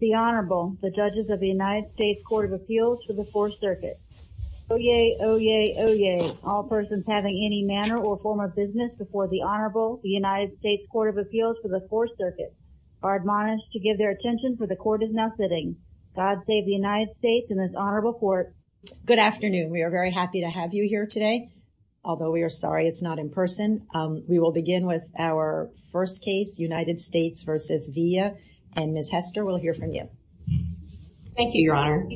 the Honorable the judges of the United States Court of Appeals for the 4th Circuit oh yay oh yay oh yay all persons having any manner or form of business before the Honorable the United States Court of Appeals for the 4th Circuit are admonished to give their attention for the court is now sitting God save the United States and this Honorable Court good afternoon we are very happy to have you here today although we are sorry it's not in person we will begin with our first case United States versus via and miss Hester will hear from you thank you your honor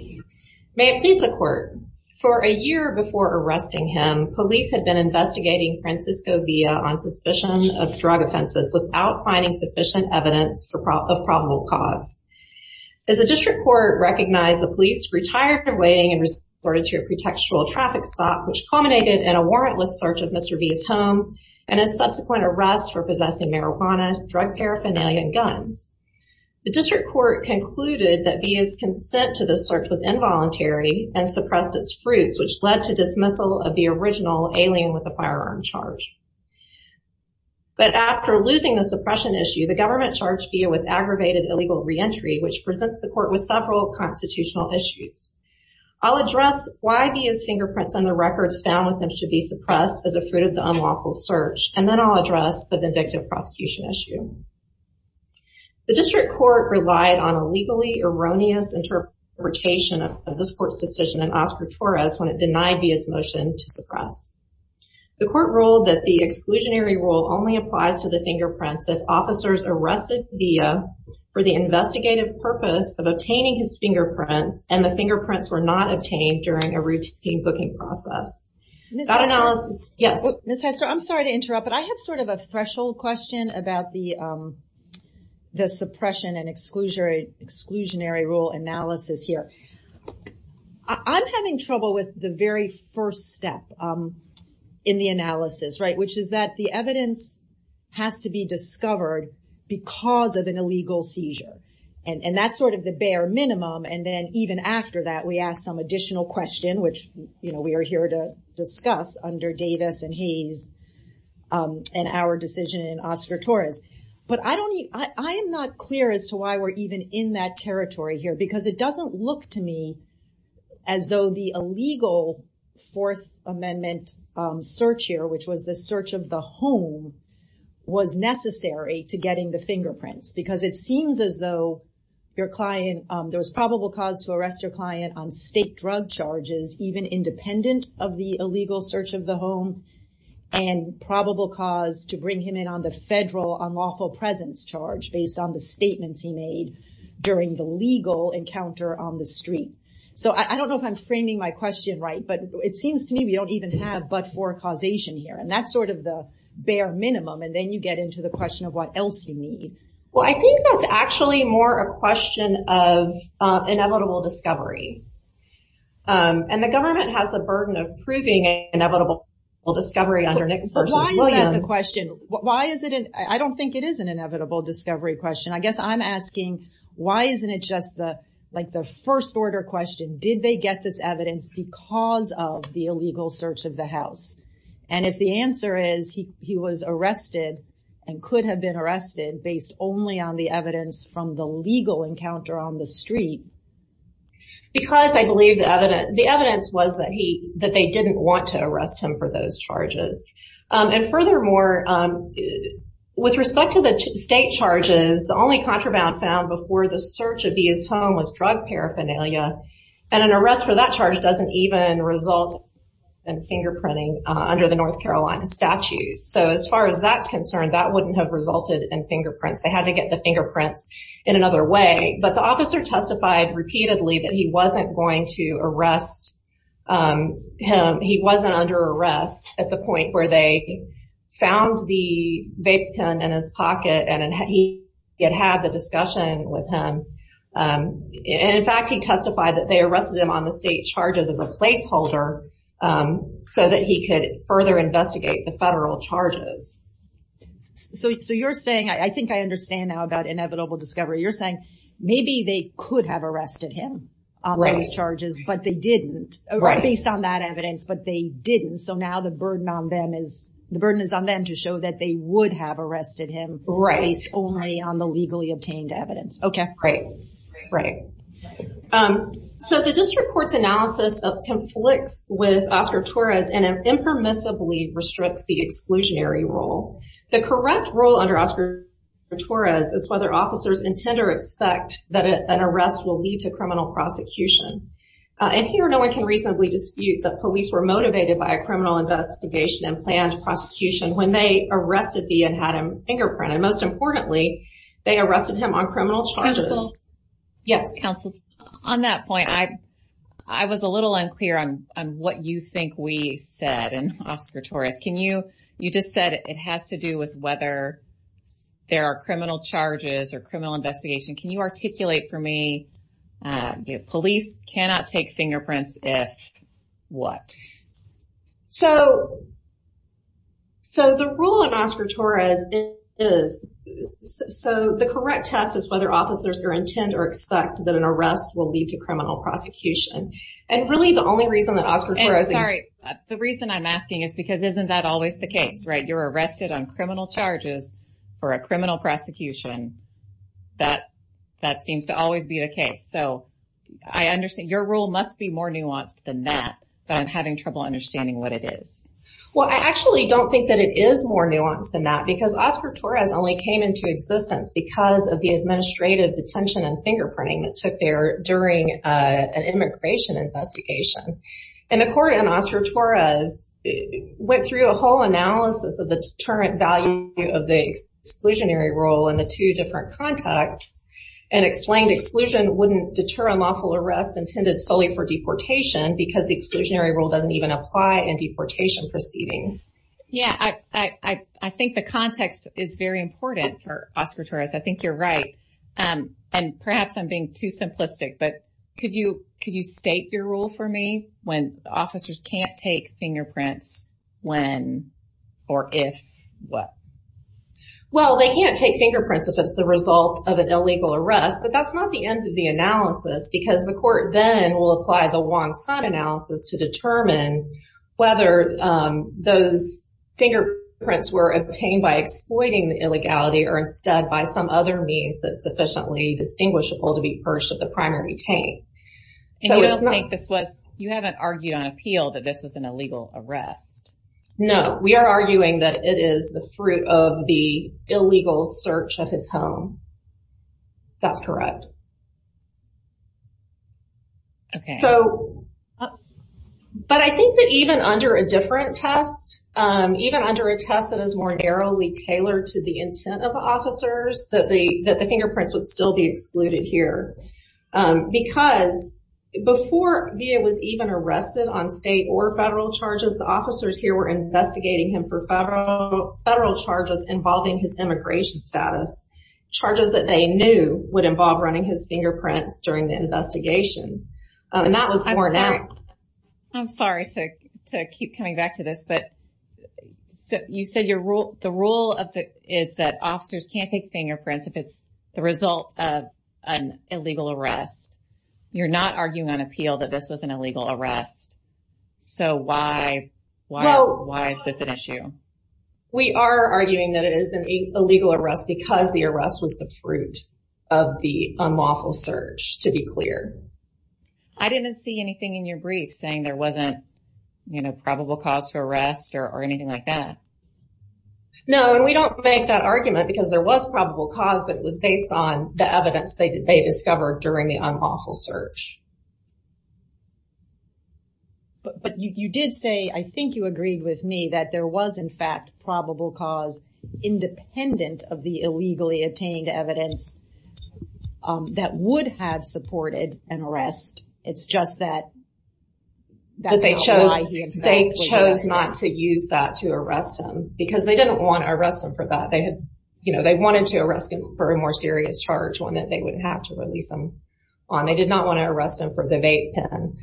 may it please the court for a year before arresting him police had been investigating Francisco via on suspicion of drug offenses without finding sufficient evidence for probable cause as a district court recognized the police retired from waiting and was ordered to a pretextual traffic stop which culminated in a warrantless search of mr. B's home and a subsequent arrest for possessing marijuana drug paraphernalia and guns the district court concluded that be his consent to the search was involuntary and suppressed its fruits which led to dismissal of the original alien with a firearm charge but after losing the suppression issue the government charged via with aggravated illegal reentry which presents the court with several constitutional issues I'll address why be his fingerprints and the records found with them should be suppressed as a fruit of the unlawful search and then I'll address the vindictive prosecution issue the district court relied on a legally erroneous interpretation of this court's decision and Oscar Torres when it denied via's motion to suppress the court ruled that the exclusionary rule only applies to the fingerprints if officers arrested via for the investigative purpose of obtaining his fingerprints and the fingerprints were not obtained during a routine booking process yes miss Hester I'm sorry to sort of a threshold question about the the suppression and exclusionary exclusionary rule analysis here I'm having trouble with the very first step in the analysis right which is that the evidence has to be discovered because of an illegal seizure and and that's sort of the bare minimum and then even after that we asked some additional question which you know we are here to discuss under Davis and Hayes and our decision in Oscar Torres but I don't need I am not clear as to why we're even in that territory here because it doesn't look to me as though the illegal Fourth Amendment search here which was the search of the home was necessary to getting the fingerprints because it seems as though your client there was probable cause to arrest your client on illegal search of the home and probable cause to bring him in on the federal unlawful presence charge based on the statements he made during the legal encounter on the street so I don't know if I'm framing my question right but it seems to me we don't even have but for causation here and that's sort of the bare minimum and then you get into the question of what else you need well I think that's actually more a question of inevitable discovery and the government has the burden of proving inevitable well discovery underneath the question why is it and I don't think it is an inevitable discovery question I guess I'm asking why isn't it just the like the first-order question did they get this evidence because of the illegal search of the house and if the answer is he was arrested and could have been arrested based only on the evidence from the legal encounter on the street because I believe the evidence the that they didn't want to arrest him for those charges and furthermore with respect to the state charges the only contraband found before the search of his home was drug paraphernalia and an arrest for that charge doesn't even result in fingerprinting under the North Carolina statute so as far as that's concerned that wouldn't have resulted in fingerprints they had to get the fingerprints in another way but the officer testified repeatedly that he wasn't under arrest at the point where they found the vape gun in his pocket and he had had the discussion with him in fact he testified that they arrested him on the state charges as a placeholder so that he could further investigate the federal charges so you're saying I think I understand now about inevitable discovery you're saying maybe they could have arrested him on that evidence but they didn't so now the burden on them is the burden is on them to show that they would have arrested him right he's only on the legally obtained evidence okay great right so the district courts analysis of conflicts with Oscar Torres and impermissibly restricts the exclusionary role the correct role under Oscar Torres is whether officers intend or expect that an arrest will lead to criminal prosecution and here no one can reasonably dispute that police were motivated by a criminal investigation and planned prosecution when they arrested the and had him fingerprinted most importantly they arrested him on criminal charges yes counsel on that point I I was a little unclear on what you think we said and Oscar Torres can you you just said it has to do with whether there are criminal charges or criminal investigation can you articulate for me the police cannot take fingerprints if what so so the rule of Oscar Torres is so the correct test is whether officers or intend or expect that an arrest will lead to criminal prosecution and really the only reason that Oscar Torres sorry the reason I'm asking is because isn't that always the case right you're arrested on criminal charges for a criminal prosecution that that seems to always be the case so I must be more nuanced than that but I'm having trouble understanding what it is well I actually don't think that it is more nuanced than that because Oscar Torres only came into existence because of the administrative detention and fingerprinting that took their during an immigration investigation and the court and Oscar Torres went through a whole analysis of the deterrent value of the exclusionary role in the two different contexts and explained exclusion wouldn't deter a lawful arrest intended solely for deportation because the exclusionary rule doesn't even apply in deportation proceedings yeah I think the context is very important for Oscar Torres I think you're right and perhaps I'm being too simplistic but could you could you state your rule for me when officers can't take fingerprints when or if what well they can't take fingerprints if it's the result of an illegal arrest but that's not the end of the analysis because the court then will apply the Wong Sun analysis to determine whether those fingerprints were obtained by exploiting the illegality or instead by some other means that sufficiently distinguishable to be perched at the primary taint so it's not this was you haven't argued on appeal that this was an illegal arrest no we are arguing that it is the fruit of the illegal search of his home that's correct okay so but I think that even under a different test even under a test that is more narrowly tailored to the intent of officers that the that the fingerprints would still be excluded here because before it was even arrested on state or federal charges the officers here were investigating him for federal charges involving his immigration status charges that they knew would involve running his fingerprints during the investigation and that was I'm sorry I'm sorry to keep coming back to this but so you said your rule the rule of the is that officers can't take fingerprints if it's the result of an illegal arrest you're not arguing on appeal that this was an illegal arrest so why why why is this an issue we are arguing that it is an illegal arrest because the arrest was the fruit of the unlawful search to be clear I didn't see anything in your brief saying there wasn't you know probable cause for arrest or anything like that no and we don't make that argument because there was probable cause that was based on the evidence they discovered during the unlawful search but you did say I think you agreed with me that there was in fact probable cause independent of the illegally obtained evidence that would have supported an arrest it's just that they chose they chose not to use that to arrest him because they didn't want to arrest him for that they had you know they wanted to arrest him for a more serious charge one that they would have to release them on I did not want to arrest him for the vape pen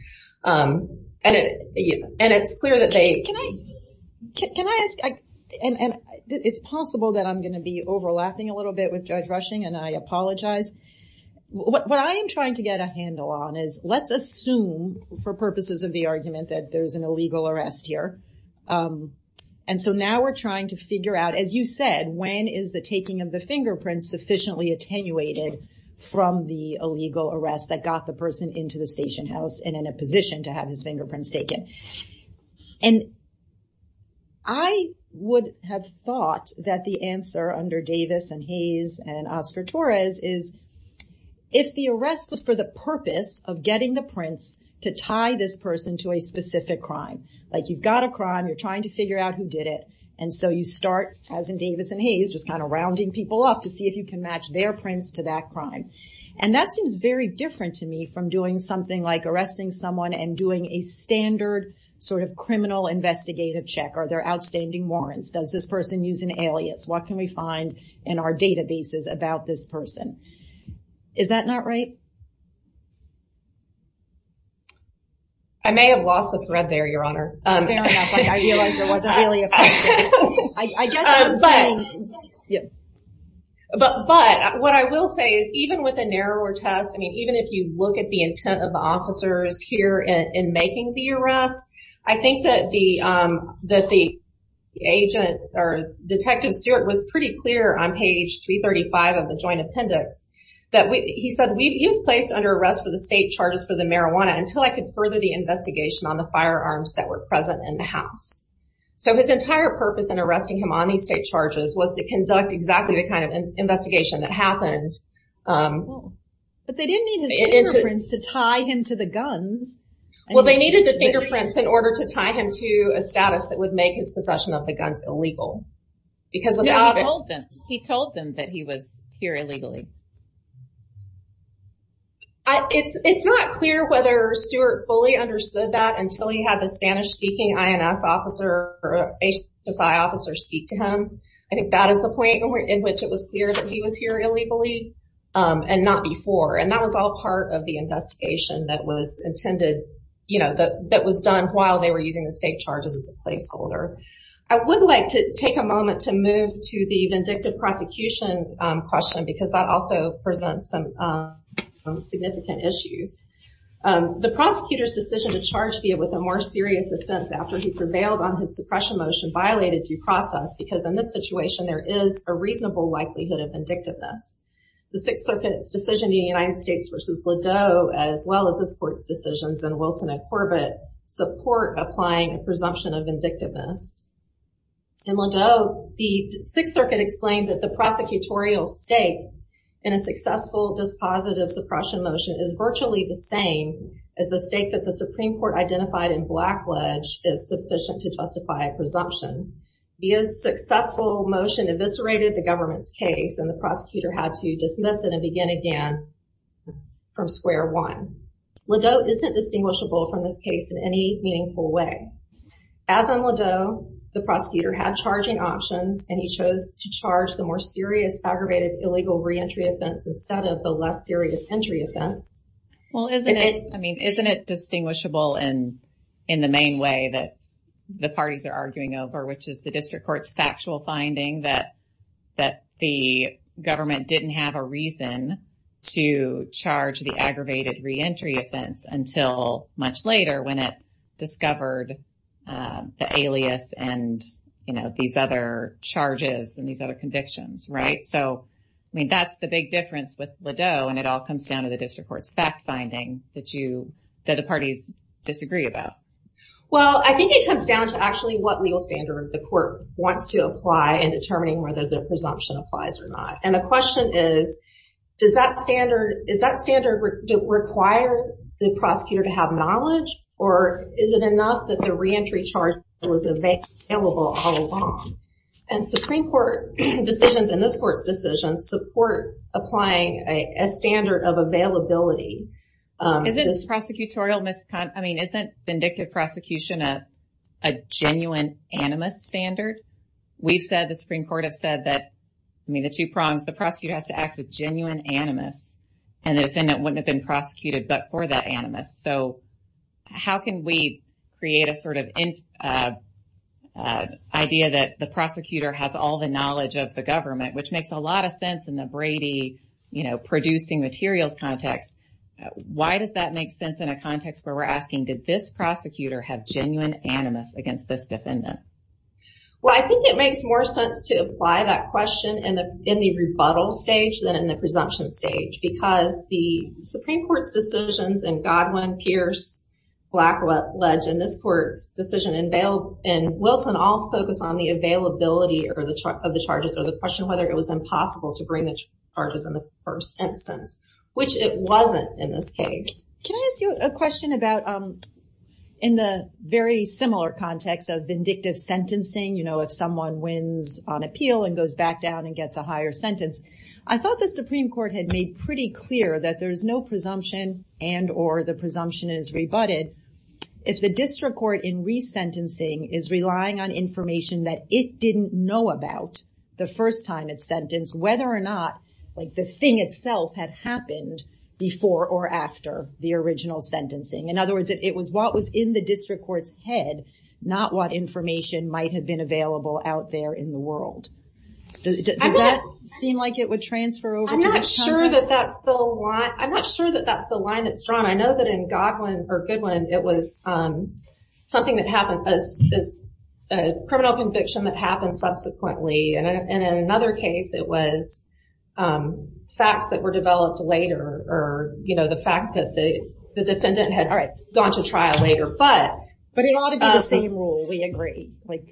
and it and it's clear that they can I ask and it's possible that I'm gonna be overlapping a little bit with Judge Rushing and I apologize what I am trying to get a handle on is let's assume for purposes of the argument that there's an illegal arrest here and so now we're trying to figure out as you said when is the taking of the fingerprints sufficiently attenuated from the illegal arrest that got the person into the station house and in a position to have his fingerprints taken and I would have thought that the answer under Davis and Hayes and Oscar Torres is if the arrest was for the purpose of getting the prints to tie this person to a specific crime like you've got a crime you're trying to figure out who did it and so you start as in Davis and Hayes just kind of rounding people up to see if you can match their prints to that crime and that seems very different to me from doing something like arresting someone and doing a standard sort of criminal investigative check or their outstanding warrants does this person use an alias what can we find in our databases about this person is that not right I may have but what I will say is even with a narrower test I mean even if you look at the intent of the officers here in making the arrest I think that the that the agent or detective Stewart was pretty clear on page 335 of the joint appendix that we he said we've used placed under arrest for the state charges for the marijuana until I could further the investigation on the firearms that were present in the house so his entire purpose in arresting him on these state charges was to conduct exactly the kind of investigation that happened but they didn't mean it's a prince to tie him to the guns well they needed the fingerprints in order to tie him to a status that would make his possession of the guns illegal because without them he told them that he was here illegally I it's it's not clear whether Stewart fully understood that until he had the Spanish-speaking INS officer or HSI officer speak to him I think that is the point in which it was clear that he was here illegally and not before and that was all part of the investigation that was intended you know that that was done while they were using the state charges as a placeholder I would like to take a moment to move to the vindictive prosecution question because that also presents some significant issues the prosecutors decision to charge be it with a more serious offense after he prevailed on his suppression motion violated due process because in this situation there is a reasonable likelihood of vindictiveness the Sixth Circuit's decision the United States versus Ladeau as well as the sports decisions and Wilson and Corbett support applying a presumption of vindictiveness in Ladeau the Sixth Circuit explained that the prosecutorial state in a successful dispositive suppression motion is virtually the same as the state that the Supreme Court identified in Blackledge is sufficient to justify a presumption he is successful motion eviscerated the government's case and the prosecutor had to dismiss it and begin again from square one Ladeau isn't distinguishable from this case in any meaningful way as on Ladeau the prosecutor had charging options and he chose to charge the more serious aggravated illegal reentry offense instead of the less serious entry offense well isn't it I mean isn't it distinguishable and in the main way that the parties are arguing over which is the district courts factual finding that that the government didn't have a reason to charge the aggravated reentry offense until much later when it discovered the alias and you know these other charges and these other with Ladeau and it all comes down to the district courts fact-finding that you that the parties disagree about well I think it comes down to actually what legal standard the court wants to apply and determining whether the presumption applies or not and the question is does that standard is that standard require the prosecutor to have knowledge or is it enough that the reentry charge was available all along and Supreme Court decisions in this court's decisions support applying a standard of availability is this prosecutorial misconduct I mean isn't vindictive prosecution a genuine animus standard we've said the Supreme Court have said that I mean the two prongs the prosecutor has to act with genuine animus and the defendant wouldn't have been prosecuted but for that animus so how can we create a sort of in idea that the prosecutor has all the knowledge of the government which makes a lot of sense in the Brady you know producing materials context why does that make sense in a context where we're asking did this prosecutor have genuine animus against this defendant well I think it makes more sense to apply that question and in the rebuttal stage than in the presumption stage because the Supreme Court's decisions and Godwin Pierce black legend this court's decision unveiled and Wilson all focus on the availability or the truck of the charges or the question whether it was impossible to bring the charges in the first instance which it wasn't in this case can I ask you a question about in the very similar context of vindictive sentencing you know if someone wins on appeal and goes back down and gets a higher sentence I thought the Supreme Court had made pretty clear that there is no presumption and or the presumption is rebutted if the district court in sentencing is relying on information that it didn't know about the first time it's sentenced whether or not like the thing itself had happened before or after the original sentencing in other words it was what was in the district courts head not what information might have been available out there in the world does that seem like it would transfer over I'm not sure that that's the line I'm not sure that that's the line that's drawn I know that in Godwin it was something that happened as a criminal conviction that happened subsequently and in another case it was facts that were developed later or you know the fact that the defendant had all right gone to trial later but but it ought to be the same rule we agree like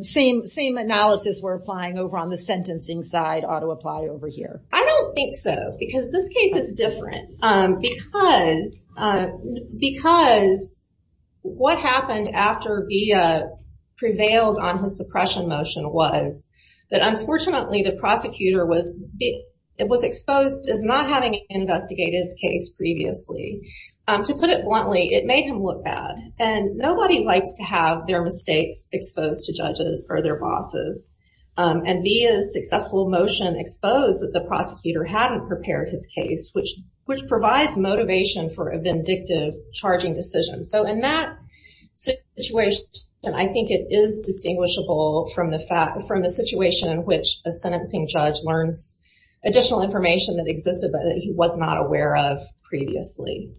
same same analysis we're applying over on the sentencing side ought to apply over here I don't think so because this what happened after via prevailed on his suppression motion was that unfortunately the prosecutor was it was exposed is not having investigated his case previously to put it bluntly it made him look bad and nobody likes to have their mistakes exposed to judges or their bosses and be a successful motion exposed that the prosecutor hadn't prepared his case which which provides motivation for a vindictive charging decision so in that situation and I think it is distinguishable from the fact from the situation in which a sentencing judge learns additional information that existed but he was not aware of previously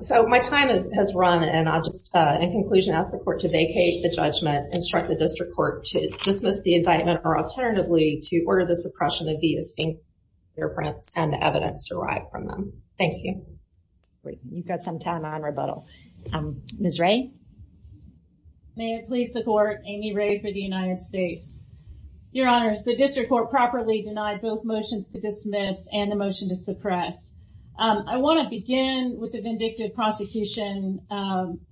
so my time is has run and I'll just in conclusion ask the court to vacate the judgment instruct the district court to dismiss the indictment or alternatively to order the suppression of these fingerprints and evidence derived from them thank you wait you've got some time on rebuttal miss Ray may it please the court Amy Ray for the United States your honors the district court properly denied both motions to dismiss and the motion to suppress I want to begin with the vindictive prosecution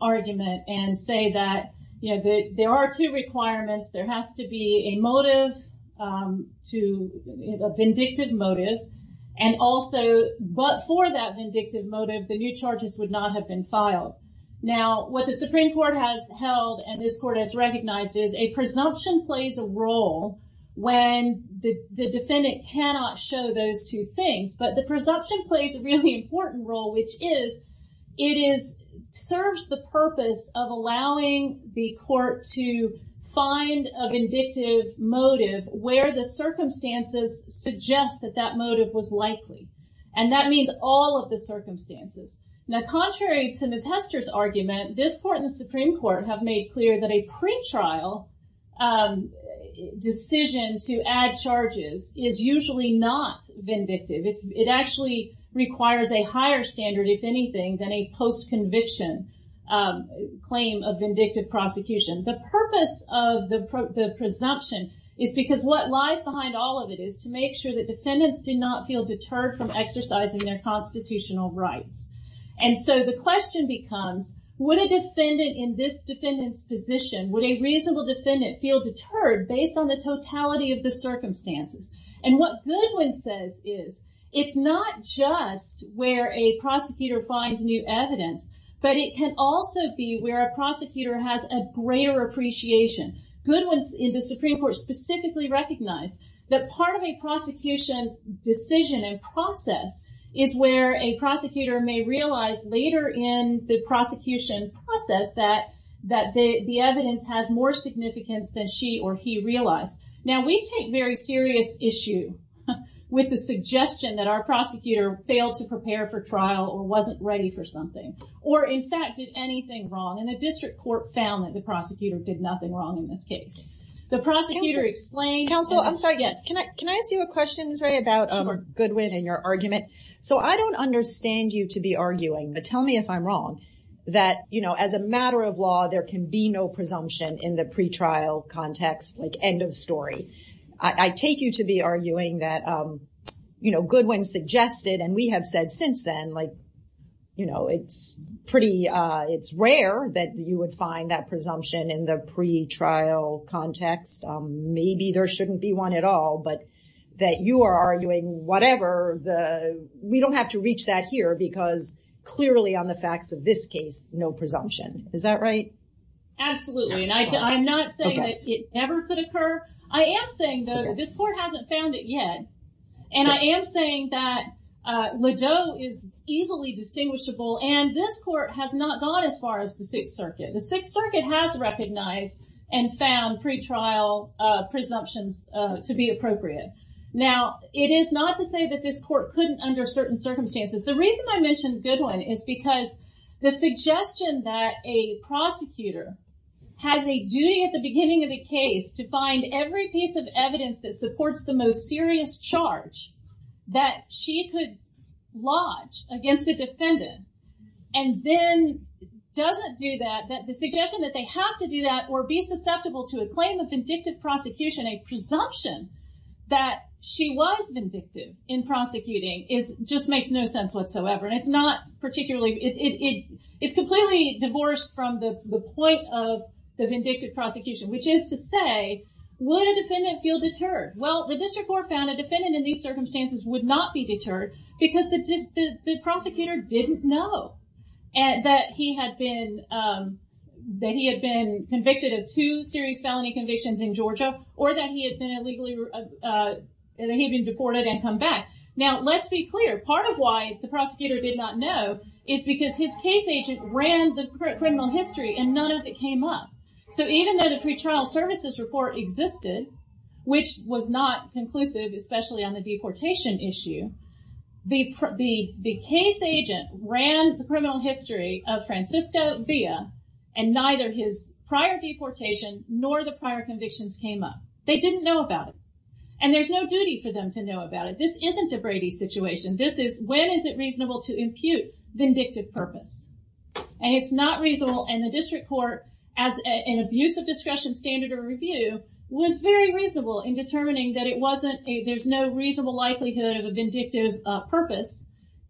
argument and say that you know that there are two requirements there has to be a motive to vindictive motive and also but for that vindictive motive the new charges would not have been filed now what the Supreme Court has held and this court has recognized is a presumption plays a role when the defendant cannot show those two things but the presumption plays a really important role which is it is serves the purpose of allowing the court to find a vindictive motive where the circumstances suggest that that motive was likely and that means all of the circumstances now contrary to miss Hester's argument this court in the Supreme Court have made clear that a pre-trial decision to add charges is usually not vindictive it actually requires a higher standard if anything than a post conviction claim of vindictive prosecution the purpose of the presumption is because what lies behind all of it is to make sure that defendants did not feel deterred from exercising their constitutional rights and so the question becomes what a defendant in this defendants position would a reasonable defendant feel deterred based on the totality of the circumstances and what goodwin says is it's not just where a prosecutor finds new evidence but it can also be where a prosecutor has a greater appreciation Goodwin's in the Supreme Court specifically recognized that part of a prosecution decision and process is where a prosecutor may realize later in the prosecution process that that the evidence has more significance than she or he realized now we take very serious issue with the suggestion that our prosecutor failed to prepare for trial or wasn't ready for something or in fact did anything wrong and the district court found that the prosecutor did nothing wrong in this case the prosecutor explain counsel I'm sorry yes can I can I ask you a questions right about a good win in your argument so I don't understand you to be arguing but tell me if I'm wrong that you know as a matter of law there can be no presumption in the pretrial context like end of story I take you to be arguing that you know good when suggested and we have said since then like you know it's pretty it's rare that you would find that presumption in the pretrial context maybe there shouldn't be one at all but that you are arguing whatever the we don't have to reach that here because clearly on the facts of this case no presumption is that right absolutely and I'm not saying that it never could occur I am saying though this court hasn't found it yet and I am saying that Ladeau is easily distinguishable and this court has not gone as far as the Sixth Circuit the Sixth Circuit has recognized and found pretrial presumptions to be appropriate now it is not to say that this court couldn't under certain circumstances the reason I mentioned good one is because the suggestion that a prosecutor has a duty at the beginning of the case to find every piece of evidence that supports the most serious charge that she could lodge against a defendant and then doesn't do that that the suggestion that they have to do that or be susceptible to a claim of vindictive prosecution a presumption that she was vindictive in prosecuting is just makes no sense whatsoever and it's not particularly it is completely divorced from the point of the vindictive prosecution which is to say would a defendant feel deterred well the district court found a defendant in these circumstances would not be deterred because the prosecutor didn't know and that he had been that he had been convicted of two serious felony convictions in Georgia or that he had been illegally and he'd been deported and come back now let's be clear part of why the prosecutor did not know is because his case agent ran the criminal history and none of it came up so even though the pretrial services report existed which was not conclusive especially on the deportation issue the case agent ran the criminal history of Francisco Villa and neither his prior deportation nor the prior convictions came up they didn't know about it and there's no duty for them to know about it this isn't a Brady situation this is when is it reasonable to impute vindictive purpose and it's not reasonable and the district court as an abuse of discretion standard or review was very reasonable in determining that it wasn't a there's no reasonable likelihood of a vindictive purpose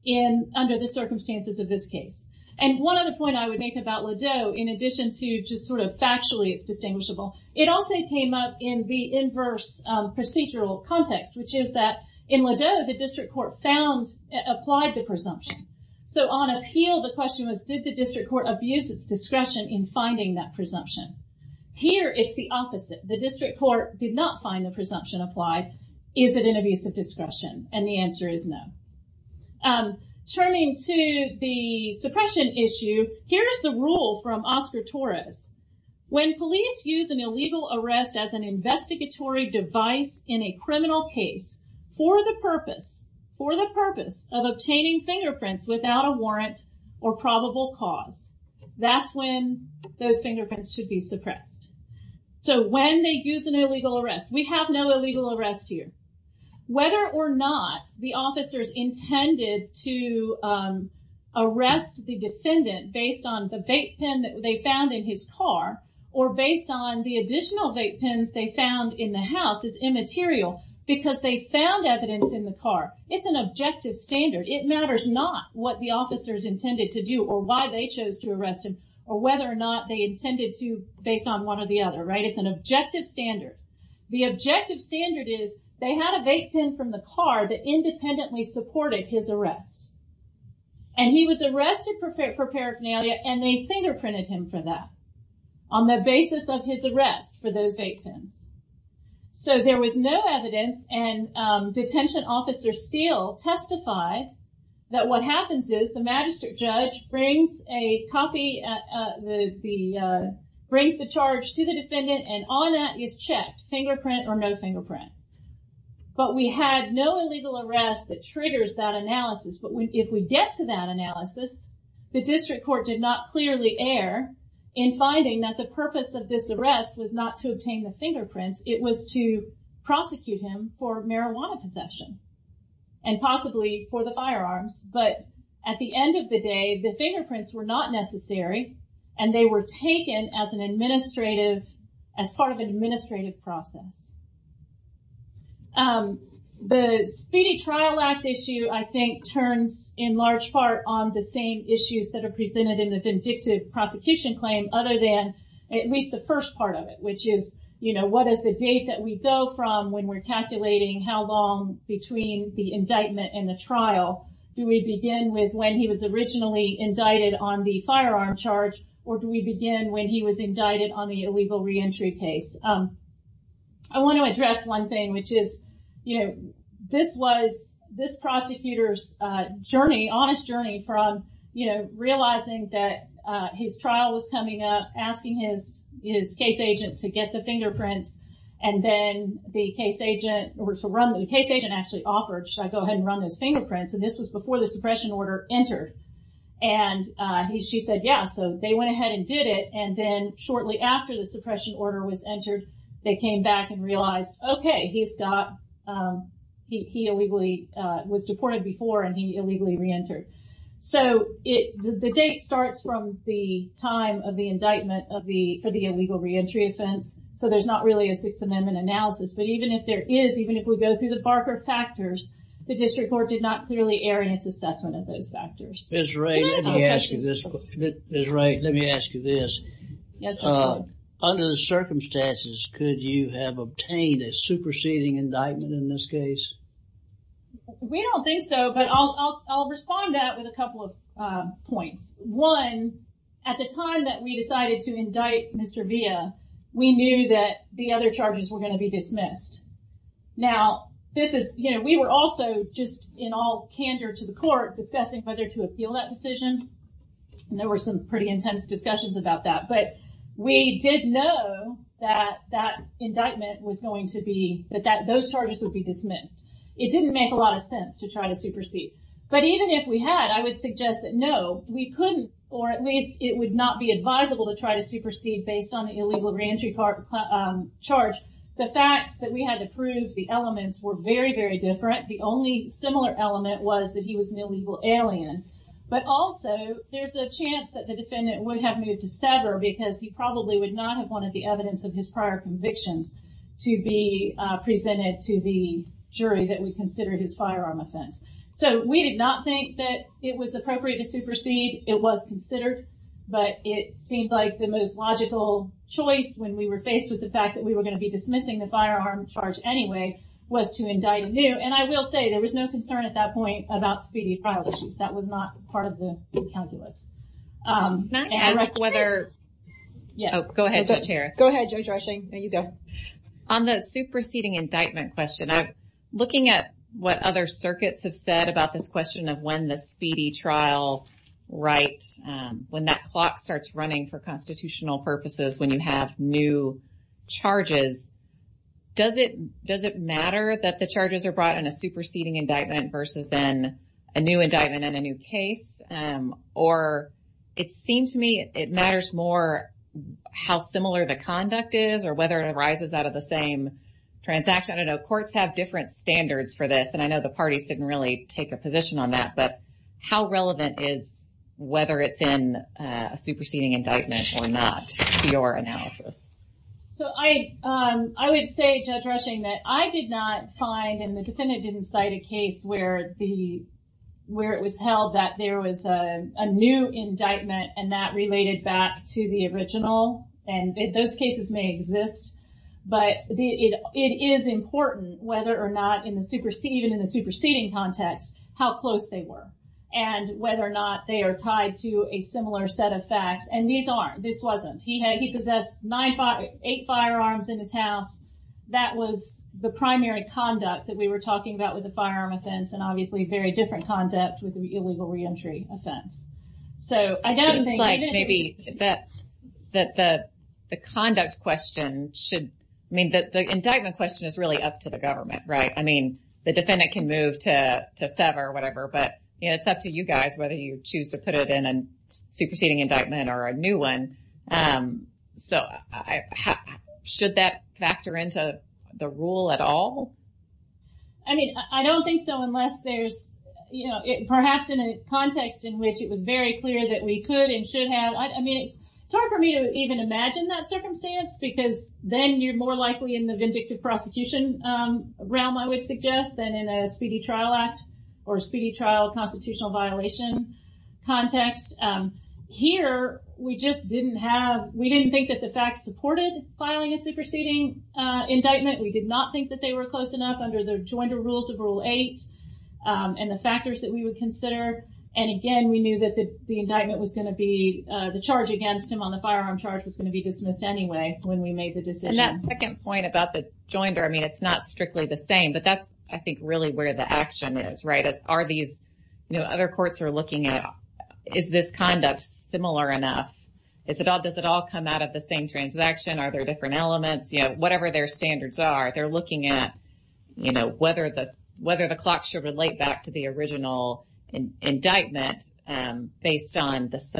in under the circumstances of this case and one of the point I would make about Ladeau in addition to just sort of factually it's distinguishable it also came up in the inverse procedural context which is that in Ladeau the district court found applied the presumption so on appeal the question was did the district court abuse its presumption here it's the opposite the district court did not find the presumption applied is it an abuse of discretion and the answer is no turning to the suppression issue here's the rule from Oscar Torres when police use an illegal arrest as an investigatory device in a criminal case for the purpose for the purpose of obtaining fingerprints without a warrant or fingerprints should be suppressed so when they use an illegal arrest we have no illegal arrest here whether or not the officers intended to arrest the defendant based on the bait pen that they found in his car or based on the additional vape pens they found in the house is immaterial because they found evidence in the car it's an objective standard it matters not what the officers intended to do or why they chose to arrest him or whether or not they intended to based on one or the other right it's an objective standard the objective standard is they had a vape pen from the car that independently supported his arrest and he was arrested for paraphernalia and they fingerprinted him for that on the basis of his arrest for those vape pens so there was no evidence and detention officer Steele testified that what brings the charge to the defendant and on that is checked fingerprint or no fingerprint but we had no illegal arrest that triggers that analysis but when if we get to that analysis the district court did not clearly err in finding that the purpose of this arrest was not to obtain the fingerprints it was to prosecute him for marijuana possession and possibly for the firearms but at the taken as an administrative as part of an administrative process the Speedy Trial Act issue I think turns in large part on the same issues that are presented in the vindictive prosecution claim other than at least the first part of it which is you know what is the date that we go from when we're calculating how long between the indictment and the trial do we begin with when he was indicted on the illegal reentry case I want to address one thing which is you know this was this prosecutors journey honest journey from you know realizing that his trial was coming up asking his his case agent to get the fingerprints and then the case agent or to run the case agent actually offered should I go ahead and run those fingerprints and this was before the suppression order entered and he she said yeah so they went ahead and did it and then shortly after the suppression order was entered they came back and realized okay he's got he illegally was deported before and he illegally reentered so it the date starts from the time of the indictment of the for the illegal reentry offense so there's not really a Sixth Amendment analysis but even if there is even if we go through the Barker factors the district court did not clearly air in its assessment of those factors is right let me ask you this is right let me ask you this yes under the circumstances could you have obtained a superseding indictment in this case we don't think so but I'll respond that with a couple of points one at the time that we decided to indict mr. via we knew that the other charges were going to be dismissed now this is you know we were also just in all candor to the court discussing whether to appeal that decision there were some pretty intense discussions about that but we did know that that indictment was going to be but that those charges would be dismissed it didn't make a lot of sense to try to supersede but even if we had I would suggest that no we couldn't or at least it would not be advisable to try to supersede based on the illegal reentry part charge the facts that we had to the elements were very very different the only similar element was that he was an illegal alien but also there's a chance that the defendant would have moved to sever because he probably would not have wanted the evidence of his prior convictions to be presented to the jury that we considered his firearm offense so we did not think that it was appropriate to supersede it was considered but it seemed like the most logical choice when we were faced with the fact that we were going to be dismissing the firearm charge anyway was to indict new and I will say there was no concern at that point about speedy trial issues that was not part of the calculus whether yes go ahead chair go ahead you go on the superseding indictment question I'm looking at what other circuits have said about this question of when the speedy trial right when that clock starts running for constitutional purposes when you have new charges does it does it matter that the charges are brought in a superseding indictment versus then a new indictment in a new case or it seemed to me it matters more how similar the conduct is or whether it arises out of the same transaction I know courts have different standards for this and I know the parties didn't really take a position on that but how relevant is whether it's in a superseding indictment or not your analysis so I I would say judge rushing that I did not find in the defendant didn't cite a case where the where it was held that there was a new indictment and that related back to the original and those cases may exist but the it is important whether or not in the supersede even in the superseding context how close they were and whether or not they are tied to a similar set of facts and these aren't this wasn't he had he possessed nine five eight firearms in his house that was the primary conduct that we were talking about with the firearm offense and obviously very different conduct with the illegal reentry offense so I don't think maybe that that the the conduct question should mean that the indictment question is really up to the government right I mean the defendant can move to sever whatever but it's up to you guys whether you choose to put it in and superseding indictment or a new one so I should that factor into the rule at all I mean I don't think so unless there's you know it perhaps in a context in which it was very clear that we could and should have I mean it's hard for me to even imagine that circumstance because then you're more likely in the vindictive prosecution realm I would suggest than in a speedy trial act or speedy trial constitutional violation context here we just didn't have we didn't think that the facts supported filing a superseding indictment we did not think that they were close enough under the joint rules of rule 8 and the factors that we would consider and again we knew that the indictment was going to be the charge against him on the firearm charge was going to be dismissed anyway when we made the decision that second point about the joinder I mean it's not strictly the same but that's I think really where the action is right as are these you know other courts are looking at is this conduct similar enough is it all does it all come out of the same transaction are there different elements you know whatever their standards are they're looking at you know whether the whether the clock should relate back to the original indictment based on the at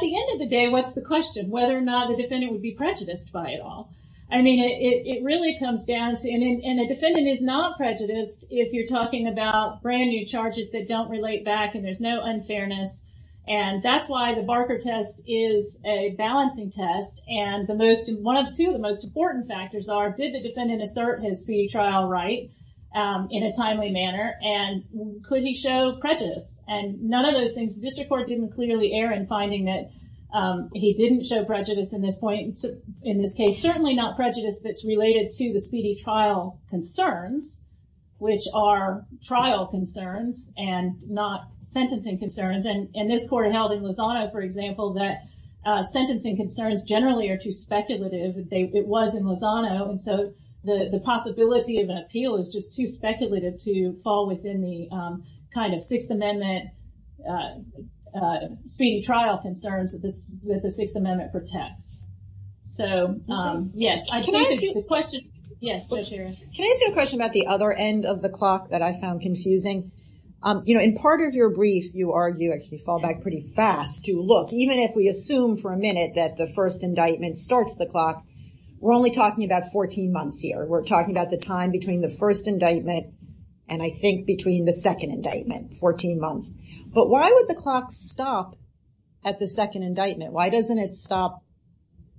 the end of the day what's the question whether or not the defendant would be prejudiced by it all I mean it really comes down to in a defendant is not prejudiced if you're talking about brand new charges that don't relate back and there's no unfairness and that's why the Barker test is a balancing test and the most one of two of the most important factors are did the defendant assert his speedy trial right in a timely manner and could he show prejudice and none of those things district court didn't clearly err in finding that he didn't show prejudice in this point in this case certainly not prejudice that's related to the speedy trial concerns which are trial concerns and not sentencing concerns and in this court held in Lozano for example that sentencing concerns generally are too speculative it was in Lozano and so the the possibility of an appeal is just too speculative to fall within the kind of Sixth Amendment speedy trial concerns with this with the Sixth Amendment protects so yes I can I ask you a question yes please can I ask you a question about the other end of the clock that I found confusing you know in part of your brief you argue actually fall back pretty fast to look even if we assume for a minute that the first indictment starts the clock we're only talking about 14 months here we're talking about the time between the first indictment and I think between the second indictment 14 months but why would the clock stop at the second indictment why doesn't it stop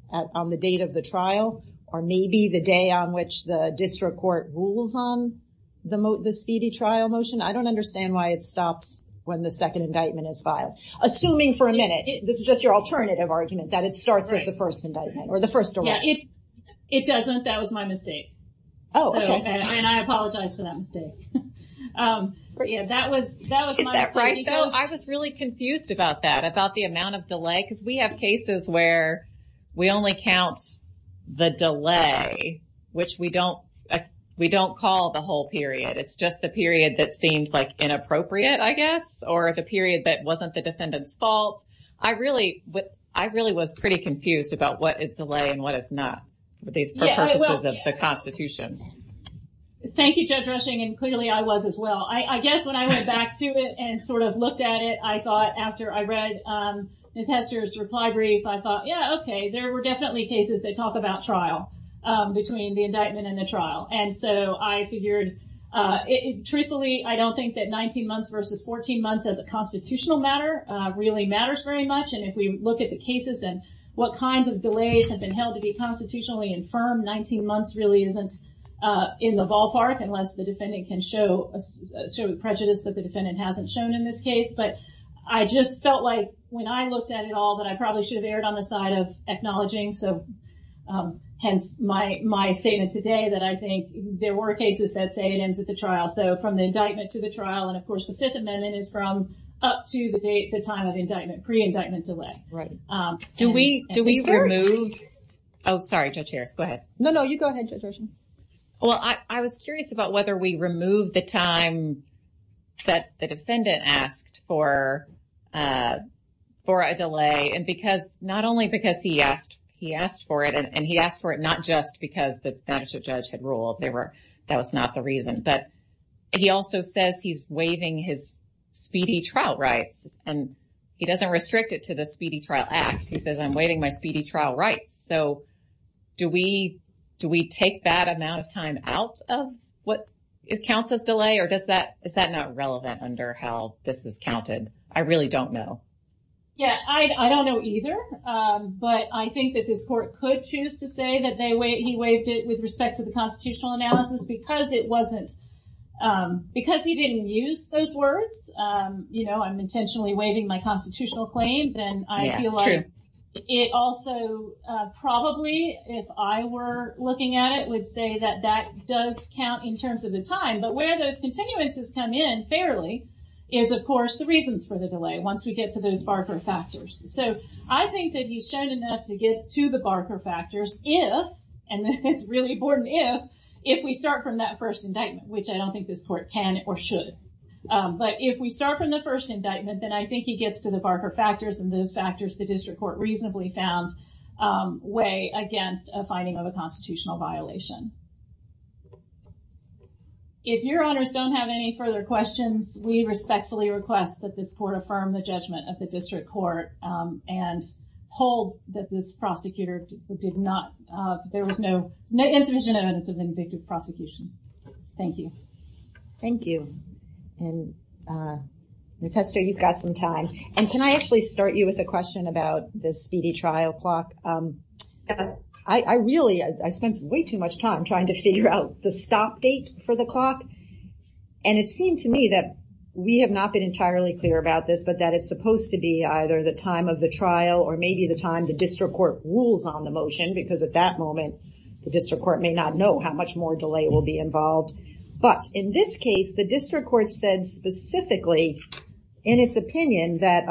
on the date of the trial or maybe the day on which the district court rules on the speedy trial motion I don't understand why it stops when the second indictment is filed assuming for a minute this is just your alternative argument that it starts with the first indictment or the first it doesn't that was my mistake oh and I apologize for that mistake yeah that was that right I was really confused about that about the amount of delay because we have cases where we only count the delay which we don't we don't call the whole period it's just the period that seems like inappropriate I guess or the period that wasn't the defendants fault I really what I really was pretty confused about what is delay and what it's not the Constitution thank you judge rushing and clearly I was as well I guess when I went back to it and sort of looked at it I thought after I read his Hester's reply brief I thought yeah okay there were definitely cases that talk about trial between the indictment and the trial and so I figured it truthfully I don't think that 19 months versus 14 months as a constitutional matter really matters very much and if you look at the cases and what kinds of delays have been held to be constitutionally infirm 19 months really isn't in the ballpark unless the defendant can show prejudice that the defendant hasn't shown in this case but I just felt like when I looked at it all that I probably should have erred on the side of acknowledging so hence my my statement today that I think there were cases that say it ends at the trial so from the indictment to the trial and of course the Fifth Amendment is from up to the date the time of indictment pre do we do we remove oh sorry judge Harris go ahead no no you go ahead judging well I was curious about whether we remove the time that the defendant asked for for a delay and because not only because he asked he asked for it and he asked for it not just because the judge had ruled they were that was not the reason but he also says he's waving his speedy trial rights and he doesn't restrict it to the speedy trial act he says I'm waiting my speedy trial right so do we do we take that amount of time out of what it counts as delay or does that is that not relevant under how this is counted I really don't know yeah I don't know either but I think that this court could choose to say that they wait he waved it with respect to the constitutional analysis because it wasn't because he didn't use those words you know I'm intentionally waving my constitutional claim then I feel like it also probably if I were looking at it would say that that does count in terms of the time but where those continuances come in fairly is of course the reasons for the delay once we get to those Barker factors so I think that he's shown enough to get to the Barker factors if and it's really important if if we start from that first indictment which I don't think this court can or should but if we start from the first indictment then I think he gets to the Barker factors and those factors the district court reasonably found way against a finding of a constitutional violation if your honors don't have any further questions we respectfully request that this court affirm the judgment of the district court and hold that this prosecutor did not there was no no insufficient evidence of the prosecution thank you thank you and miss Hester you've got some time and can I actually start you with a question about this speedy trial clock I really I spent way too much time trying to figure out the stop date for the clock and it seemed to me that we have not been entirely clear about this but that it's supposed to be either the time of the trial or maybe the time the district court rules on the motion because at that moment the district court may not know how much more delay will be involved but in this case the district court said specifically in its opinion that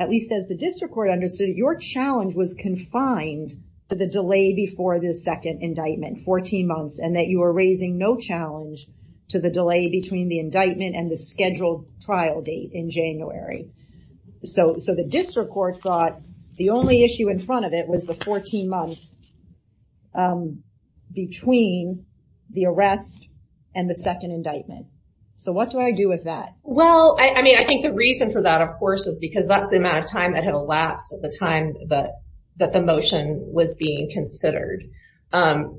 at least as the district court understood your challenge was confined to the delay before this second indictment 14 months and that you are raising no challenge to the delay between the indictment and the scheduled trial date in January so so the district court thought the only issue in front of it was the 14 months between the arrest and the second indictment so what do I do with that well I mean I think the reason for that of course is because that's the amount of time that had elapsed at the time but that the motion was being considered no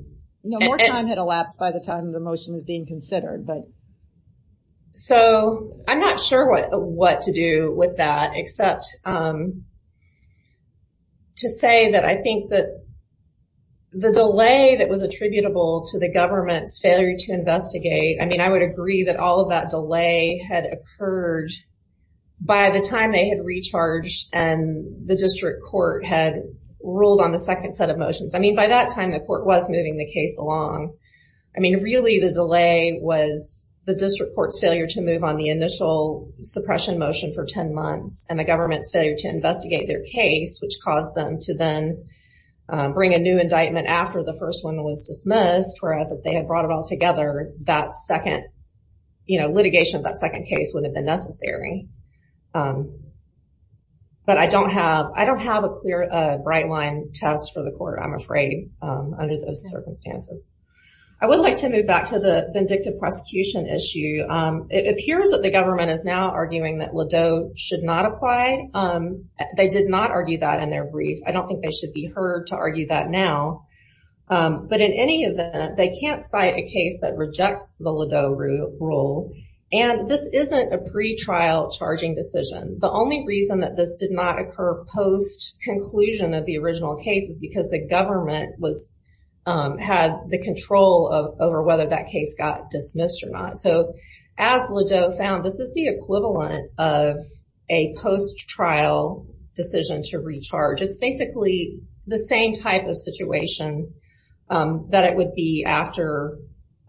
more time had elapsed by the time the motion is being considered but so I'm not sure what what to do with that except to say that I think that the delay that was attributable to the government's failure to investigate I mean I would agree that all of that delay had occurred by the time they had recharged and the district court had ruled on the second set of motions I mean by that time the court was moving the case along I mean really the delay was the district court's move on the initial suppression motion for ten months and the government's failure to investigate their case which caused them to then bring a new indictment after the first one was dismissed whereas if they had brought it all together that second you know litigation of that second case would have been necessary but I don't have I don't have a clear bright line test for the court I'm afraid under those circumstances I would like to move back to the vindictive prosecution issue it appears that the government is now arguing that Ladeau should not apply they did not argue that in their brief I don't think they should be heard to argue that now but in any event they can't cite a case that rejects the Ladeau rule and this isn't a pretrial charging decision the only reason that this did not occur post conclusion of the original case is because the government was had the control of over that case got dismissed or not so as Ladeau found this is the equivalent of a post trial decision to recharge it's basically the same type of situation that it would be after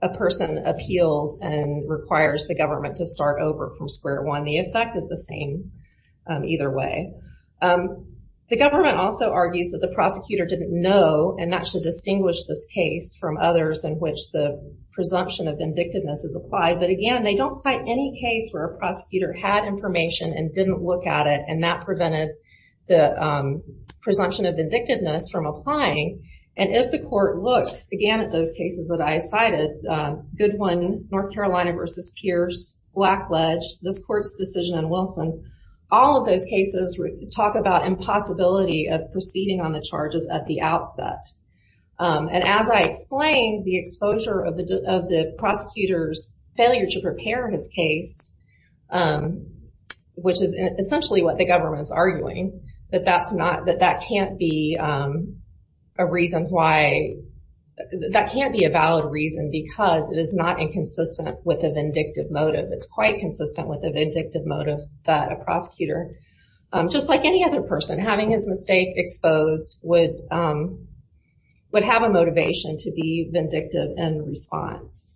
a person appeals and requires the government to start over from square one the effect is the same either way the government also argues that the prosecutor didn't know and that should distinguish this case from others in which the presumption of vindictiveness is applied but again they don't fight any case where a prosecutor had information and didn't look at it and that prevented the presumption of vindictiveness from applying and if the court looks again at those cases that I cited good one North Carolina versus Pierce black ledge this court's decision and Wilson all of those cases talk about impossibility of proceeding on the charges at the outset and as I explain the exposure of the prosecutors failure to prepare his case which is essentially what the government's arguing that that's not that that can't be a reason why that can't be a valid reason because it is not inconsistent with a vindictive motive it's quite consistent with a vindictive motive that a prosecutor just like any other person having his mistake exposed would would have a motivation to be vindictive and response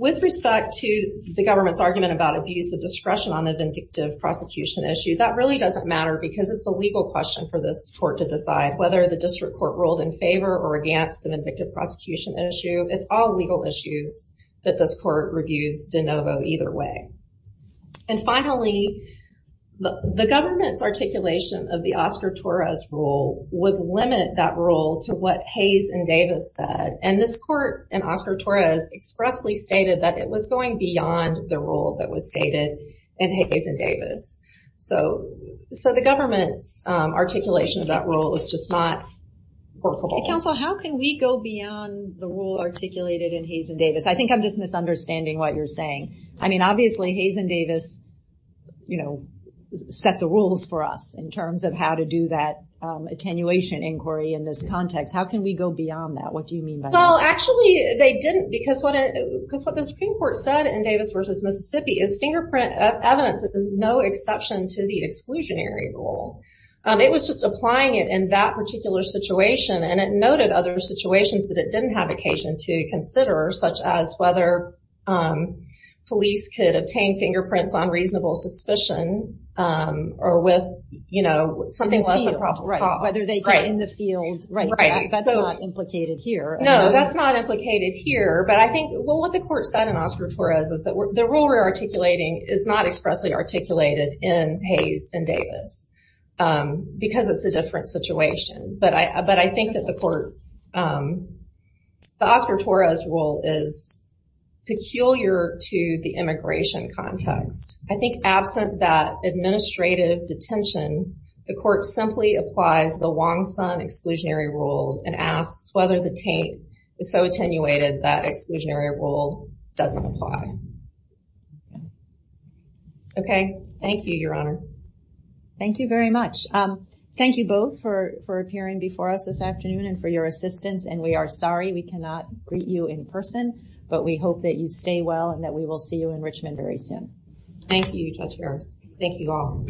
with respect to the government's argument about abuse of discretion on the vindictive prosecution issue that really doesn't matter because it's a legal question for this court to decide whether the district court ruled in favor or against the vindictive prosecution issue it's all legal issues that this court reviews de novo either way and finally the government's articulation of the Oscar Torres rule would limit that rule to what Hayes and Davis said and this court and Oscar Torres expressly stated that it was going beyond the rule that was stated and Hayes and Davis so so the government's articulation of that rule is just not workable counsel how can we go beyond the rule articulated in Hayes and Davis I think I'm just misunderstanding what you're saying I mean obviously Hayes and Davis you know set the rules for us in terms of how to do that attenuation inquiry in this context how can we go beyond that what do you mean by well actually they didn't because what it because what the Supreme Court said in Davis versus Mississippi is fingerprint evidence it is no exception to the exclusionary rule it was just applying it in that particular situation and it noted other situations that it didn't have occasion to consider such as whether police could obtain fingerprints on reasonable suspicion or with you know something whether they write in the field right that's not implicated here no that's not implicated here but I think well what the court said in Oscar Torres is that we're the rule we're articulating is not expressly articulated in Hayes and Davis because it's a different situation but I think that the court the Oscar Torres rule is peculiar to the immigration context I think absent that administrative detention the court simply applies the Wong Sun exclusionary rule and asks whether the taint is so attenuated that exclusionary rule doesn't apply okay thank you your honor thank you very much thank you both for for appearing before us this afternoon and for your assistance and we are sorry we cannot greet you in person but we hope that you stay well and that we will see you in Richmond very soon thank you judge Harris thank you all